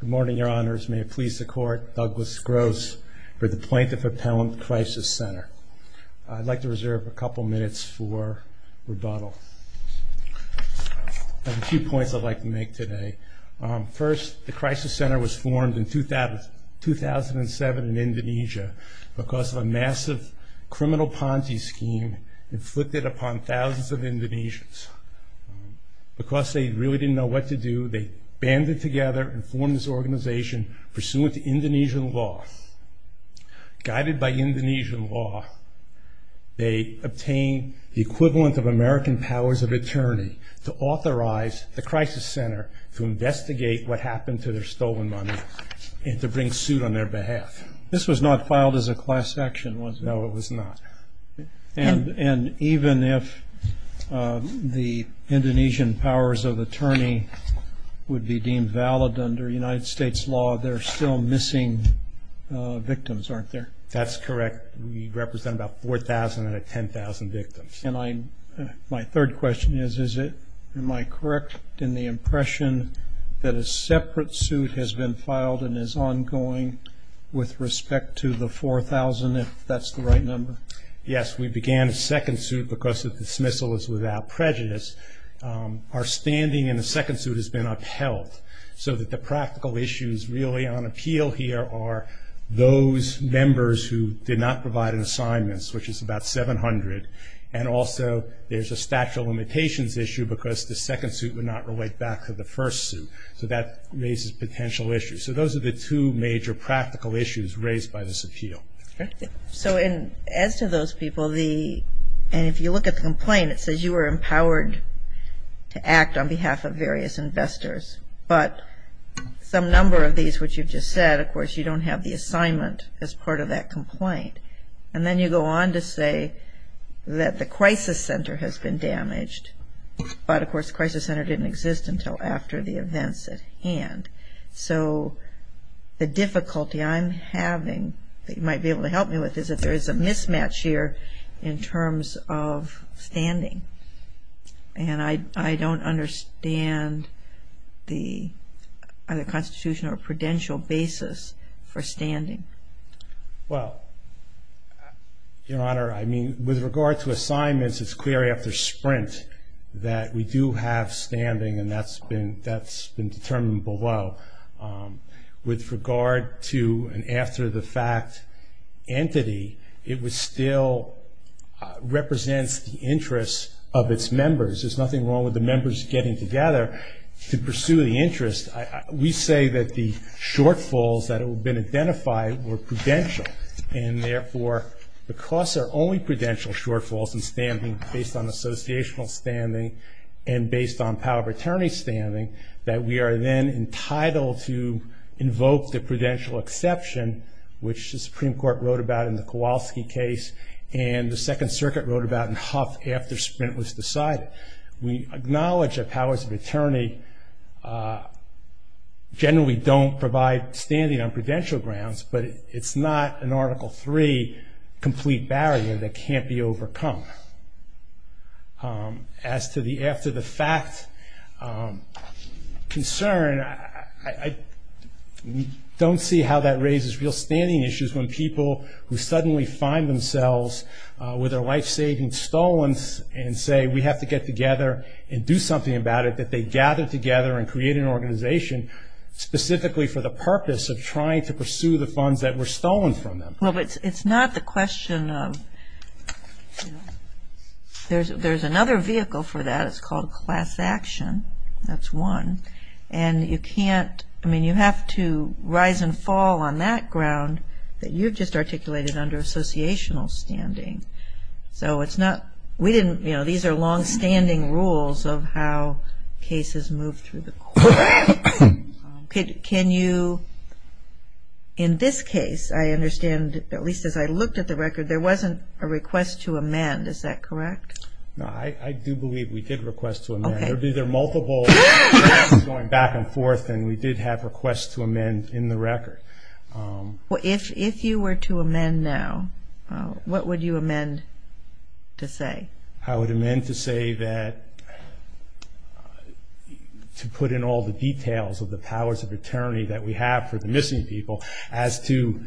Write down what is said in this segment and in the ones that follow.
Good morning, Your Honors. May it please the Court, Douglas Gross for the Plaintiff Appellant Crisis Center. I'd like to reserve a couple minutes for rebuttal. I have a few points I'd like to make today. First, the Crisis Center was formed in 2007 in Indonesia because of a massive criminal Ponzi scheme inflicted upon thousands of Indonesians. Because they really didn't know what to do, they banded together and formed this organization pursuant to Indonesian law. Guided by Indonesian law, they obtained the equivalent of American powers of attorney to authorize the Crisis Center to investigate what happened to their stolen money and to bring suit on their behalf. This was not filed as a class action, was it? No, it was not. And even if the Indonesian powers of attorney would be deemed valid under United States law, there are still missing victims, aren't there? That's correct. We represent about 4,000 out of 10,000 victims. And my third question is, am I correct in the impression that a separate suit has been filed and is ongoing with respect to the 4,000, if that's the right number? Yes, we began a second suit because the dismissal is without prejudice. Our standing in the second suit has been upheld so that the practical issues really on appeal here are those members who did not provide an assignment, which is about 700, and also there's a statute of limitations issue because the second suit would not relate back to the first suit. So that raises potential issues. So those are the two major practical issues raised by this appeal. So as to those people, and if you look at the complaint, it says you were empowered to act on behalf of various investors, but some number of these which you just said, of course, you don't have the assignment as part of that complaint. And then you go on to say that the Crisis Center has been damaged, but, of course, Crisis Center didn't exist until after the events at hand. So the difficulty I'm having that you might be able to help me with is that there is a mismatch here in terms of standing, and I don't understand the Constitutional or prudential basis for standing. Well, Your Honor, I mean, with regard to assignments, it's clear after sprint that we do have standing, and that's been determined below. With regard to an after-the-fact entity, it still represents the interests of its members. There's nothing wrong with the members getting together to pursue the interest. We say that the shortfalls that have been identified were prudential, and, therefore, because there are only prudential shortfalls in standing based on associational standing and based on power of attorney standing, that we are then entitled to invoke the prudential exception, which the Supreme Court wrote about in the Kowalski case and the Second Circuit wrote about in Huff after sprint was decided. We acknowledge that powers of attorney generally don't provide standing on prudential grounds, but it's not an Article III complete barrier that can't be overcome. As to the after-the-fact concern, I don't see how that raises real standing issues when people who suddenly find themselves with their life savings stolen and say, we have to get together and do something about it, that they gather together and create an organization specifically for the purpose of trying to pursue the funds that were stolen from them. Well, but it's not the question of, you know, there's another vehicle for that. It's called class action. That's one. And you can't, I mean, you have to rise and fall on that ground that you've just articulated under associational standing. So it's not, we didn't, you know, these are long-standing rules of how cases move through the court. Can you, in this case, I understand, at least as I looked at the record, there wasn't a request to amend, is that correct? No, I do believe we did request to amend. There were either multiple requests going back and forth and we did have requests to amend in the record. Well, if you were to amend now, what would you amend to say? I would amend to say that to put in all the details of the powers of attorney that we have for the missing people as to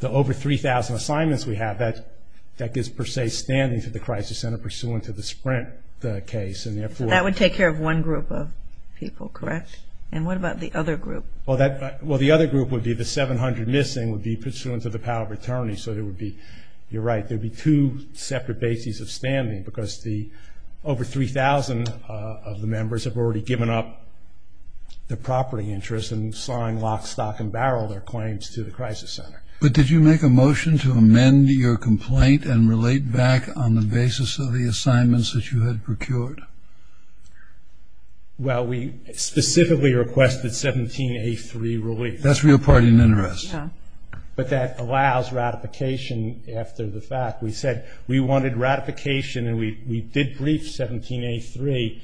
the over 3,000 assignments we have that gives per se standing to the crisis center pursuant to the Sprint case. That would take care of one group of people, correct? Yes. And what about the other group? Well, the other group would be the 700 missing, would be pursuant to the power of attorney, so there would be, you're right, there would be two separate bases of standing because the over 3,000 of the members have already given up their property interests and sawing lock, stock, and barrel their claims to the crisis center. But did you make a motion to amend your complaint and relate back on the basis of the assignments that you had procured? Well, we specifically requested 17A3 relief. That's real party and interest. Yeah. But that allows ratification after the fact. We said we wanted ratification and we did brief 17A3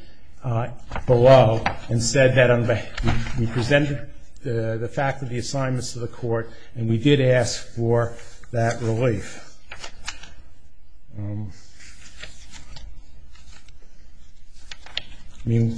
below and said that we presented the fact of the assignments to the court and we did ask for that relief. I mean,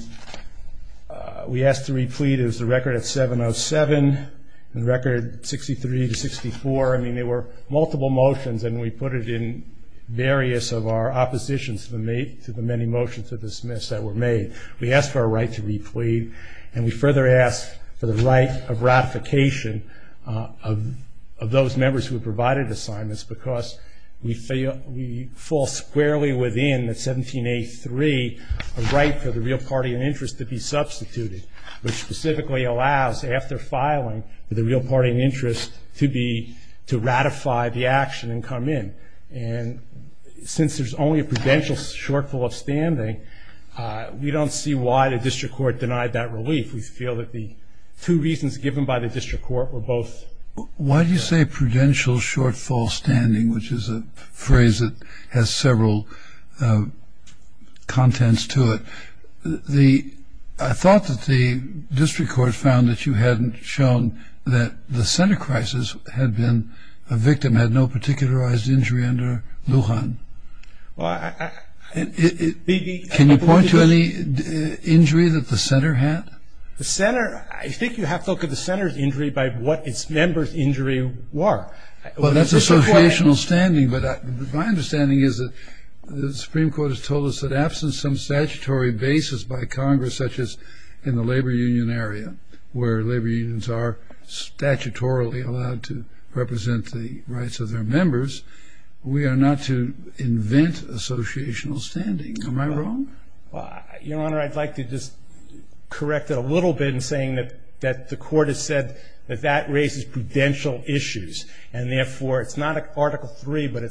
we asked to re-plead. It was the record at 707 and the record 63 to 64. I mean, there were multiple motions and we put it in various of our oppositions to the many motions to dismiss that were made. We asked for a right to re-plead and we further asked for the right of ratification of those members who provided assignments because we fall squarely within the 17A3 right for the real party and interest to be substituted, which specifically allows after filing for the real party and interest to ratify the action and come in. And since there's only a prudential shortfall of standing, we don't see why the district court denied that relief. We feel that the two reasons given by the district court were both. Why do you say prudential shortfall standing, which is a phrase that has several contents to it? I thought that the district court found that you hadn't shown that the center crisis had been a victim, had no particularized injury under Lujan. Can you point to any injury that the center had? I think you have to look at the center's injury by what its members' injury were. Well, that's associational standing, but my understanding is that the Supreme Court has told us that absent some statutory basis by Congress, such as in the labor union area, where labor unions are statutorily allowed to represent the rights of their members, we are not to invent associational standing. Am I wrong? Your Honor, I'd like to just correct it a little bit in saying that the court has said that that raises prudential issues, and therefore it's not Article III, but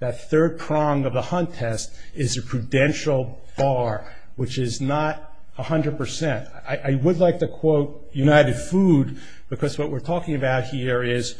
that third prong of the Hunt test is a prudential bar, which is not 100%. I would like to quote United Food, because what we're talking about here is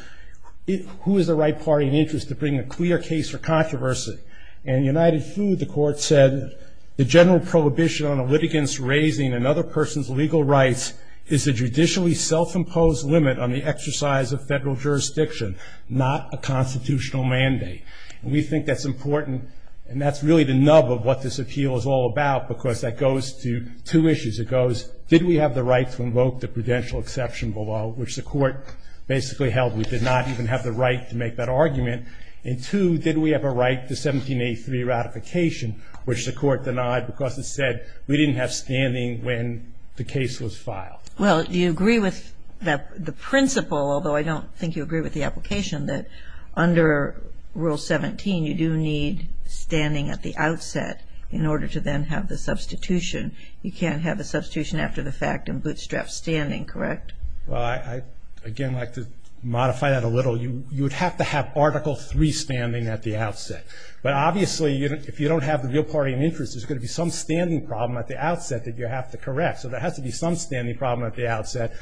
who is the right party in interest to bring a clear case for controversy. And United Food, the court said, the general prohibition on a litigant's raising another person's legal rights is a judicially self-imposed limit on the exercise of federal jurisdiction, not a constitutional mandate. And we think that's important, and that's really the nub of what this appeal is all about, because that goes to two issues. It goes, did we have the right to invoke the prudential exception below, which the court basically held. We did not even have the right to make that argument. And two, did we have a right to 1783 ratification, which the court denied because it said we didn't have standing when the case was filed. Well, you agree with the principle, although I don't think you agree with the application, that under Rule 17 you do need standing at the outset in order to then have the substitution. You can't have the substitution after the fact and bootstrap standing, correct? Well, I'd again like to modify that a little. You would have to have Article III standing at the outset. But obviously if you don't have the real party in interest, there's going to be some standing problem at the outset that you have to correct. So there has to be some standing problem at the outset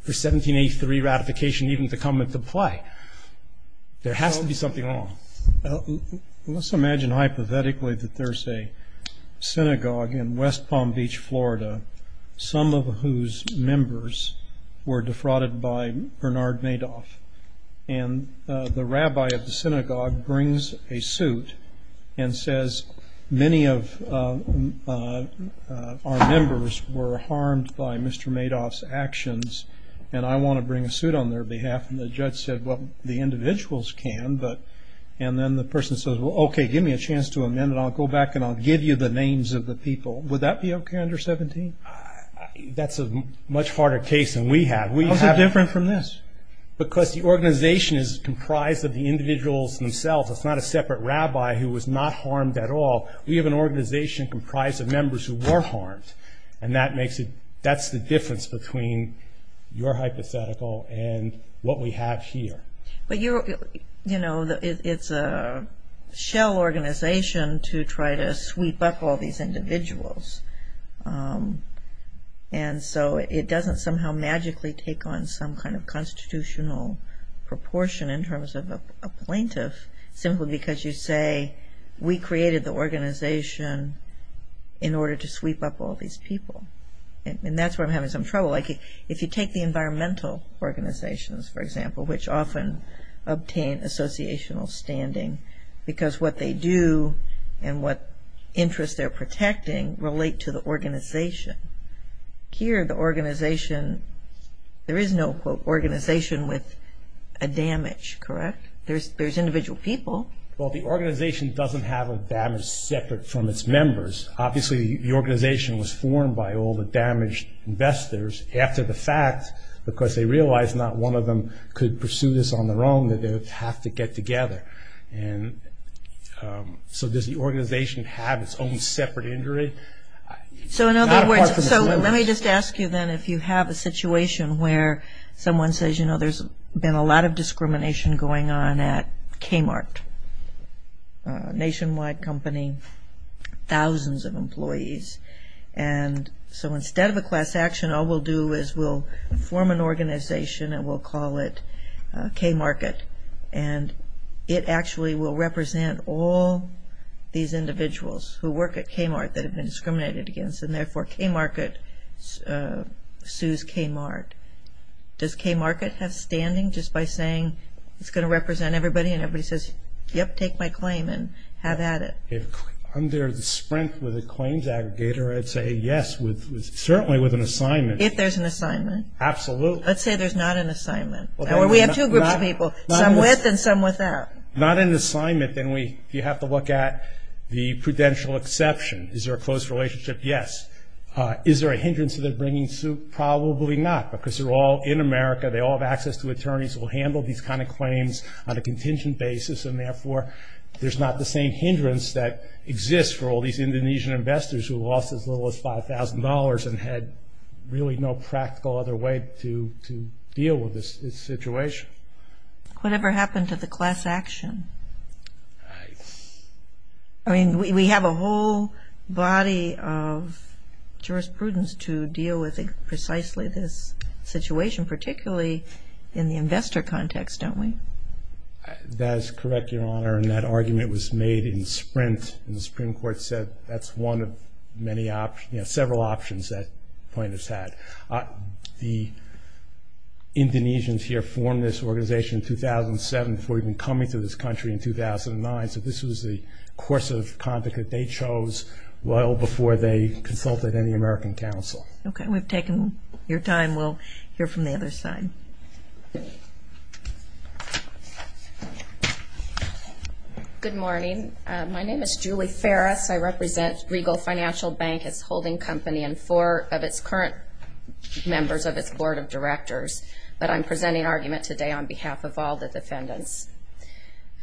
for 1783 ratification even to come into play. There has to be something wrong. Well, let's imagine hypothetically that there's a synagogue in West Palm Beach, Florida, some of whose members were defrauded by Bernard Madoff. And the rabbi of the synagogue brings a suit and says, many of our members were harmed by Mr. Madoff's actions, and I want to bring a suit on their behalf. And the judge said, well, the individuals can. And then the person says, well, okay, give me a chance to amend it. I'll go back and I'll give you the names of the people. Would that be okay under 17? That's a much harder case than we have. How is it different from this? Because the organization is comprised of the individuals themselves. It's not a separate rabbi who was not harmed at all. We have an organization comprised of members who were harmed, and that's the difference between your hypothetical and what we have here. But, you know, it's a shell organization to try to sweep up all these individuals. And so it doesn't somehow magically take on some kind of constitutional proportion in terms of a plaintiff simply because you say, we created the organization in order to sweep up all these people. And that's where I'm having some trouble. Like if you take the environmental organizations, for example, which often obtain associational standing because what they do and what interests they're protecting relate to the organization. Here the organization, there is no, quote, organization with a damage, correct? There's individual people. Well, the organization doesn't have a damage separate from its members. Obviously the organization was formed by all the damaged investors after the fact because they realized not one of them could pursue this on their own, that they would have to get together. And so does the organization have its own separate injury? So in other words, let me just ask you then if you have a situation where someone says, you know, there's been a lot of discrimination going on at Kmart, a nationwide company, thousands of employees. And so instead of a class action, all we'll do is we'll form an organization and we'll call it Kmart. And it actually will represent all these individuals who work at Kmart that have been discriminated against, and therefore Kmart sues Kmart. Does Kmart have standing just by saying it's going to represent everybody and everybody says, yep, take my claim and have at it? Under the sprint with the claims aggregator, I'd say yes, certainly with an assignment. If there's an assignment? Absolutely. Let's say there's not an assignment. Or we have two groups of people, some with and some without. Not an assignment, then you have to look at the prudential exception. Is there a close relationship? Yes. Is there a hindrance to their bringing suit? Probably not because they're all in America. They all have access to attorneys who will handle these kind of claims on a contingent basis, and therefore there's not the same hindrance that exists for all these Indonesian investors who lost as little as $5,000 and had really no practical other way to deal with this situation. Whatever happened to the class action? We have a whole body of jurisprudence to deal with precisely this situation, particularly in the investor context, don't we? That is correct, Your Honor, and that argument was made in sprint, and the Supreme Court said that's one of several options that plaintiffs had. The Indonesians here formed this organization in 2007 before even coming to this country in 2009, so this was the course of conduct that they chose well before they consulted any American counsel. Okay. We've taken your time. We'll hear from the other side. Good morning. My name is Julie Farris. I represent Regal Financial Bank, its holding company, and four of its current members of its board of directors, but I'm presenting argument today on behalf of all the defendants.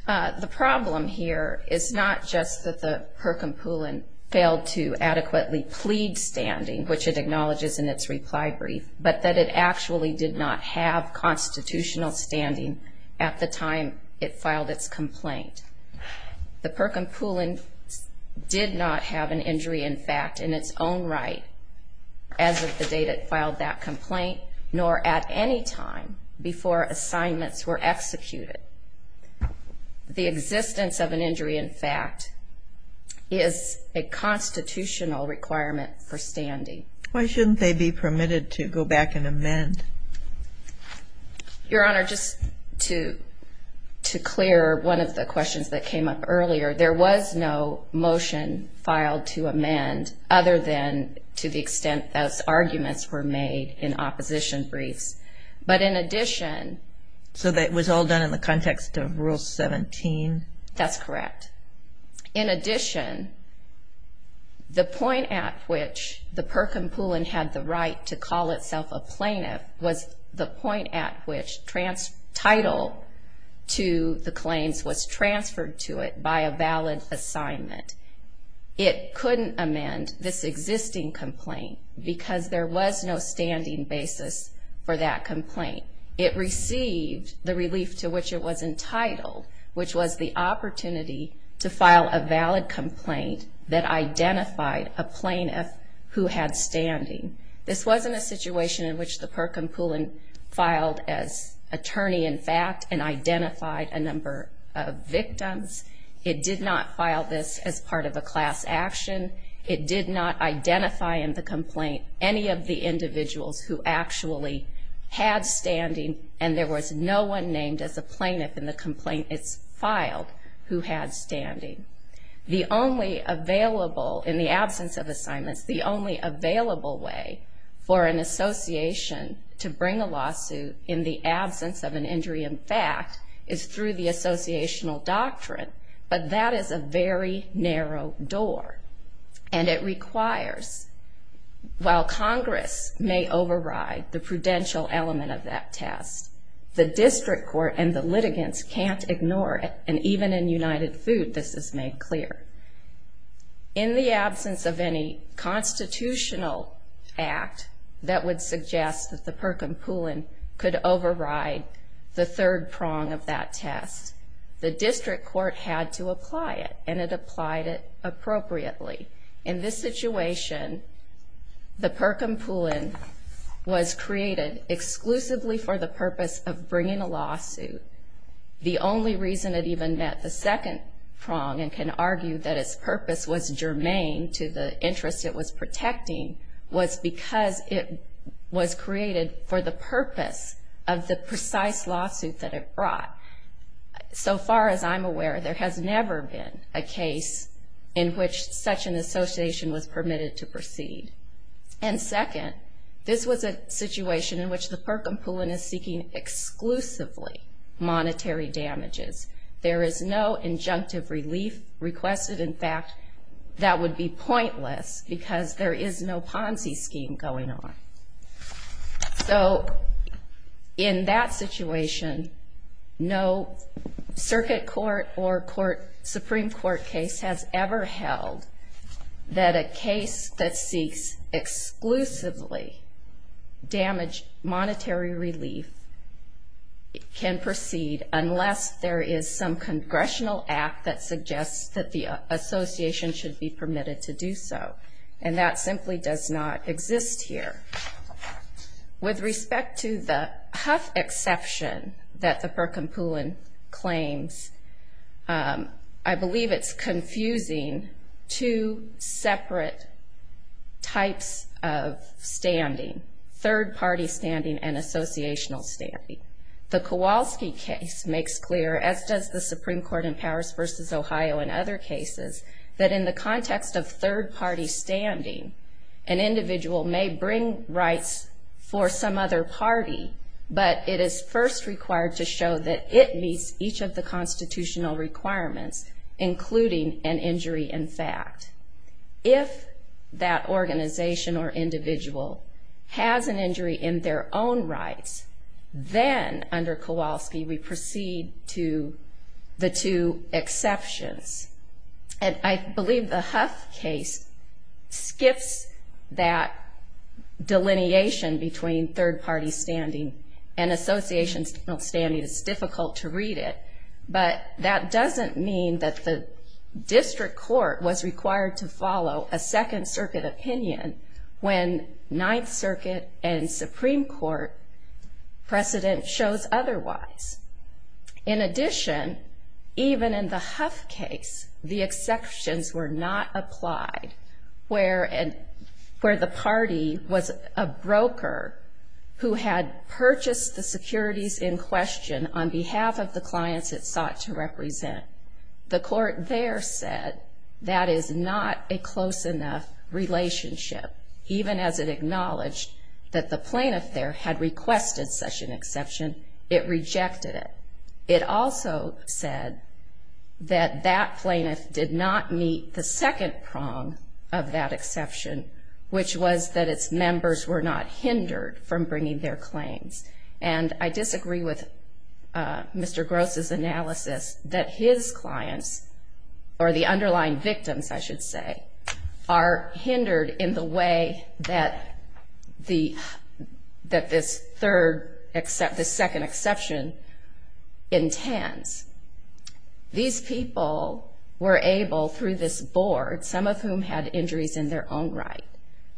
The problem here is not just that the Perkampulan failed to adequately plead standing, which it acknowledges in its reply brief, but that it actually did not have constitutional standing at the time it filed its complaint. The Perkampulan did not have an injury in fact in its own right as of the date it filed that complaint, nor at any time before assignments were executed. The existence of an injury in fact is a constitutional requirement for standing. Why shouldn't they be permitted to go back and amend? Your Honor, just to clear one of the questions that came up earlier, there was no motion filed to amend other than to the extent those arguments were made in opposition briefs. But in addition... So that was all done in the context of Rule 17? That's correct. In addition, the point at which the Perkampulan had the right to call itself a plaintiff was the point at which title to the claims was transferred to it by a valid assignment. It couldn't amend this existing complaint because there was no standing basis for that complaint. It received the relief to which it was entitled, which was the opportunity to file a valid complaint that identified a plaintiff who had standing. This wasn't a situation in which the Perkampulan filed as attorney in fact and identified a number of victims. It did not file this as part of a class action. It did not identify in the complaint any of the individuals who actually had standing and there was no one named as a plaintiff in the complaint it's filed who had standing. The only available, in the absence of assignments, the only available way for an association to bring a lawsuit in the absence of an injury in fact is through the associational doctrine, but that is a very narrow door, and it requires while Congress may override the prudential element of that test, the district court and the litigants can't ignore it, and even in United Food this is made clear. In the absence of any constitutional act that would suggest that the Perkampulan could override the third prong of that test, the district court had to apply it, and it applied it appropriately. In this situation, the Perkampulan was created exclusively for the purpose of bringing a lawsuit. The only reason it even met the second prong and can argue that its purpose was germane to the interest it was protecting was because it was created for the purpose of the precise lawsuit that it brought. So far as I'm aware, there has never been a case in which such an association was permitted to proceed. And second, this was a situation in which the Perkampulan is seeking exclusively monetary damages. There is no injunctive relief requested. In fact, that would be pointless because there is no Ponzi scheme going on. So in that situation, no circuit court or Supreme Court case has ever held that a case that seeks exclusively damage monetary relief can proceed unless there is some congressional act that suggests that the association should be permitted to do so. And that simply does not exist here. With respect to the Hough exception that the Perkampulan claims, I believe it's confusing two separate types of standing, third-party standing and associational standing. The Kowalski case makes clear, as does the Supreme Court in Powers v. Ohio and other cases, that in the context of third-party standing, an individual may bring rights for some other party, but it is first required to show that it meets each of the constitutional requirements, including an injury in fact. If that organization or individual has an injury in their own rights, then under Kowalski we proceed to the two exceptions. And I believe the Hough case skips that delineation between third-party standing and associational standing. It's difficult to read it. But that doesn't mean that the district court was required to follow a Second Circuit opinion when Ninth Circuit and Supreme Court precedent shows otherwise. In addition, even in the Hough case, the exceptions were not applied where the party was a broker who had purchased the securities in question on behalf of the clients it sought to represent. The court there said that is not a close enough relationship. Even as it acknowledged that the plaintiff there had requested such an exception, it rejected it. It also said that that plaintiff did not meet the second prong of that exception, which was that its members were not hindered from bringing their claims. And I disagree with Mr. Gross' analysis that his clients, or the underlying victims, I should say, are hindered in the way that this second exception intends. These people were able, through this board, some of whom had injuries in their own right,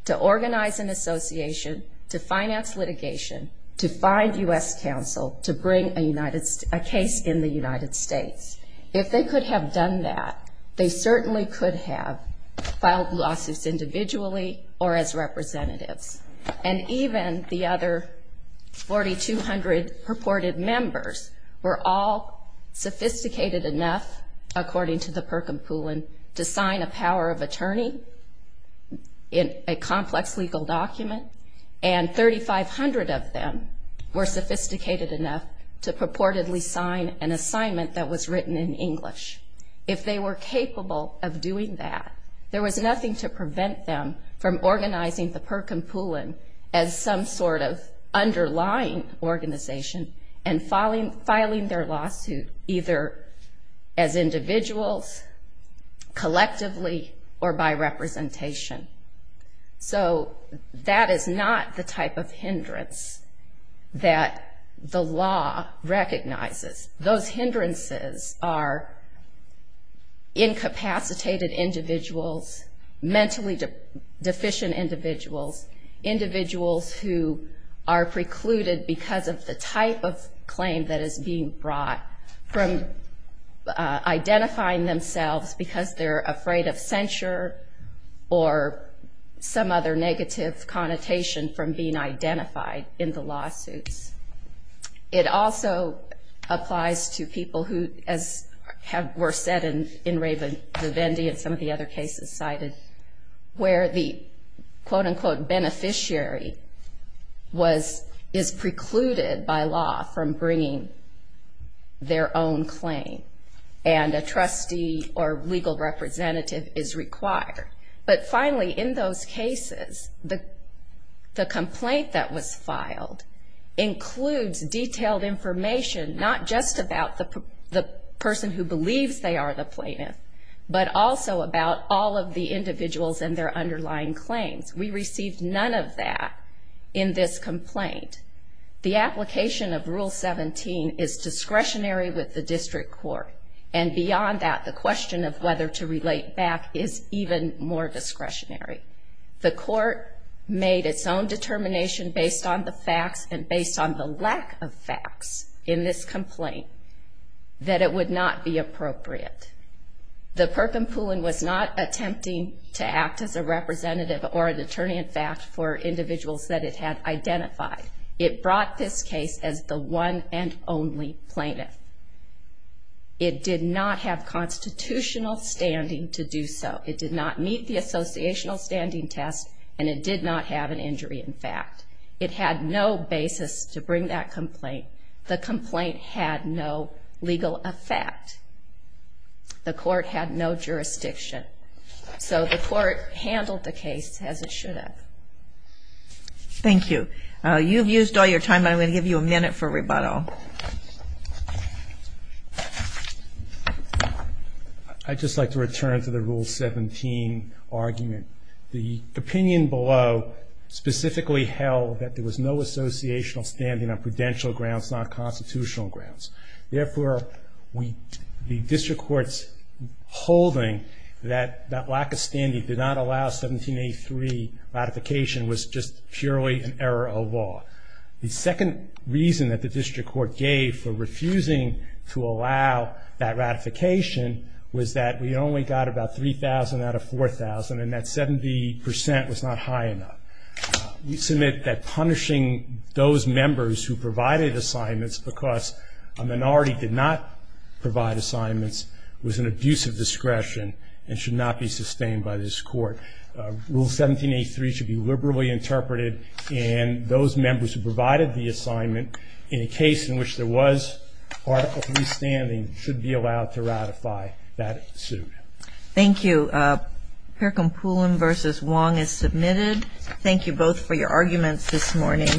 to organize an association, to finance litigation, to find U.S. counsel, to bring a case in the United States. If they could have done that, they certainly could have filed lawsuits individually or as representatives. And even the other 4,200 purported members were all sophisticated enough, according to the Perkin-Pulin, to sign a power of attorney in a complex legal document, and 3,500 of them were sophisticated enough to purportedly sign an assignment that was written in English. If they were capable of doing that, there was nothing to prevent them from organizing the Perkin-Pulin as some sort of underlying organization and filing their lawsuit either as individuals, collectively, or by representation. So that is not the type of hindrance that the law recognizes. Those hindrances are incapacitated individuals, mentally deficient individuals, individuals who are precluded because of the type of claim that is being brought, from identifying themselves because they're afraid of censure or some other negative connotation from being identified in the lawsuits. It also applies to people who, as were said in Raven-DeVende and some of the other cases cited, where the quote-unquote beneficiary is precluded by law from bringing their own claim, and a trustee or legal representative is required. But finally, in those cases, the complaint that was filed includes detailed information not just about the person who believes they are the plaintiff, but also about all of the individuals and their underlying claims. We received none of that in this complaint. The application of Rule 17 is discretionary with the district court, and beyond that, the question of whether to relate back is even more discretionary. The court made its own determination based on the facts and based on the lack of facts in this complaint that it would not be appropriate. The Perkin Pullen was not attempting to act as a representative or an attorney-in-fact for individuals that it had identified. It brought this case as the one and only plaintiff. It did not have constitutional standing to do so. It did not meet the associational standing test, and it did not have an injury-in-fact. It had no basis to bring that complaint. The complaint had no legal effect. The court had no jurisdiction. So the court handled the case as it should have. Thank you. You've used all your time, but I'm going to give you a minute for rebuttal. I'd just like to return to the Rule 17 argument. The opinion below specifically held that there was no associational standing on prudential grounds, not constitutional grounds. Therefore, the district court's holding that that lack of standing did not allow 1783 ratification was just purely an error of law. The second reason that the district court gave for refusing to allow that ratification was that we only got about 3,000 out of 4,000, and that 70% was not high enough. We submit that punishing those members who provided assignments because a minority did not provide assignments was an abuse of discretion and should not be sustained by this court. Rule 1783 should be liberally interpreted, and those members who provided the assignment in a case in which there was article 3 standing should be allowed to ratify that suit. Thank you. Percompulon v. Wong is submitted. Thank you both for your arguments this morning.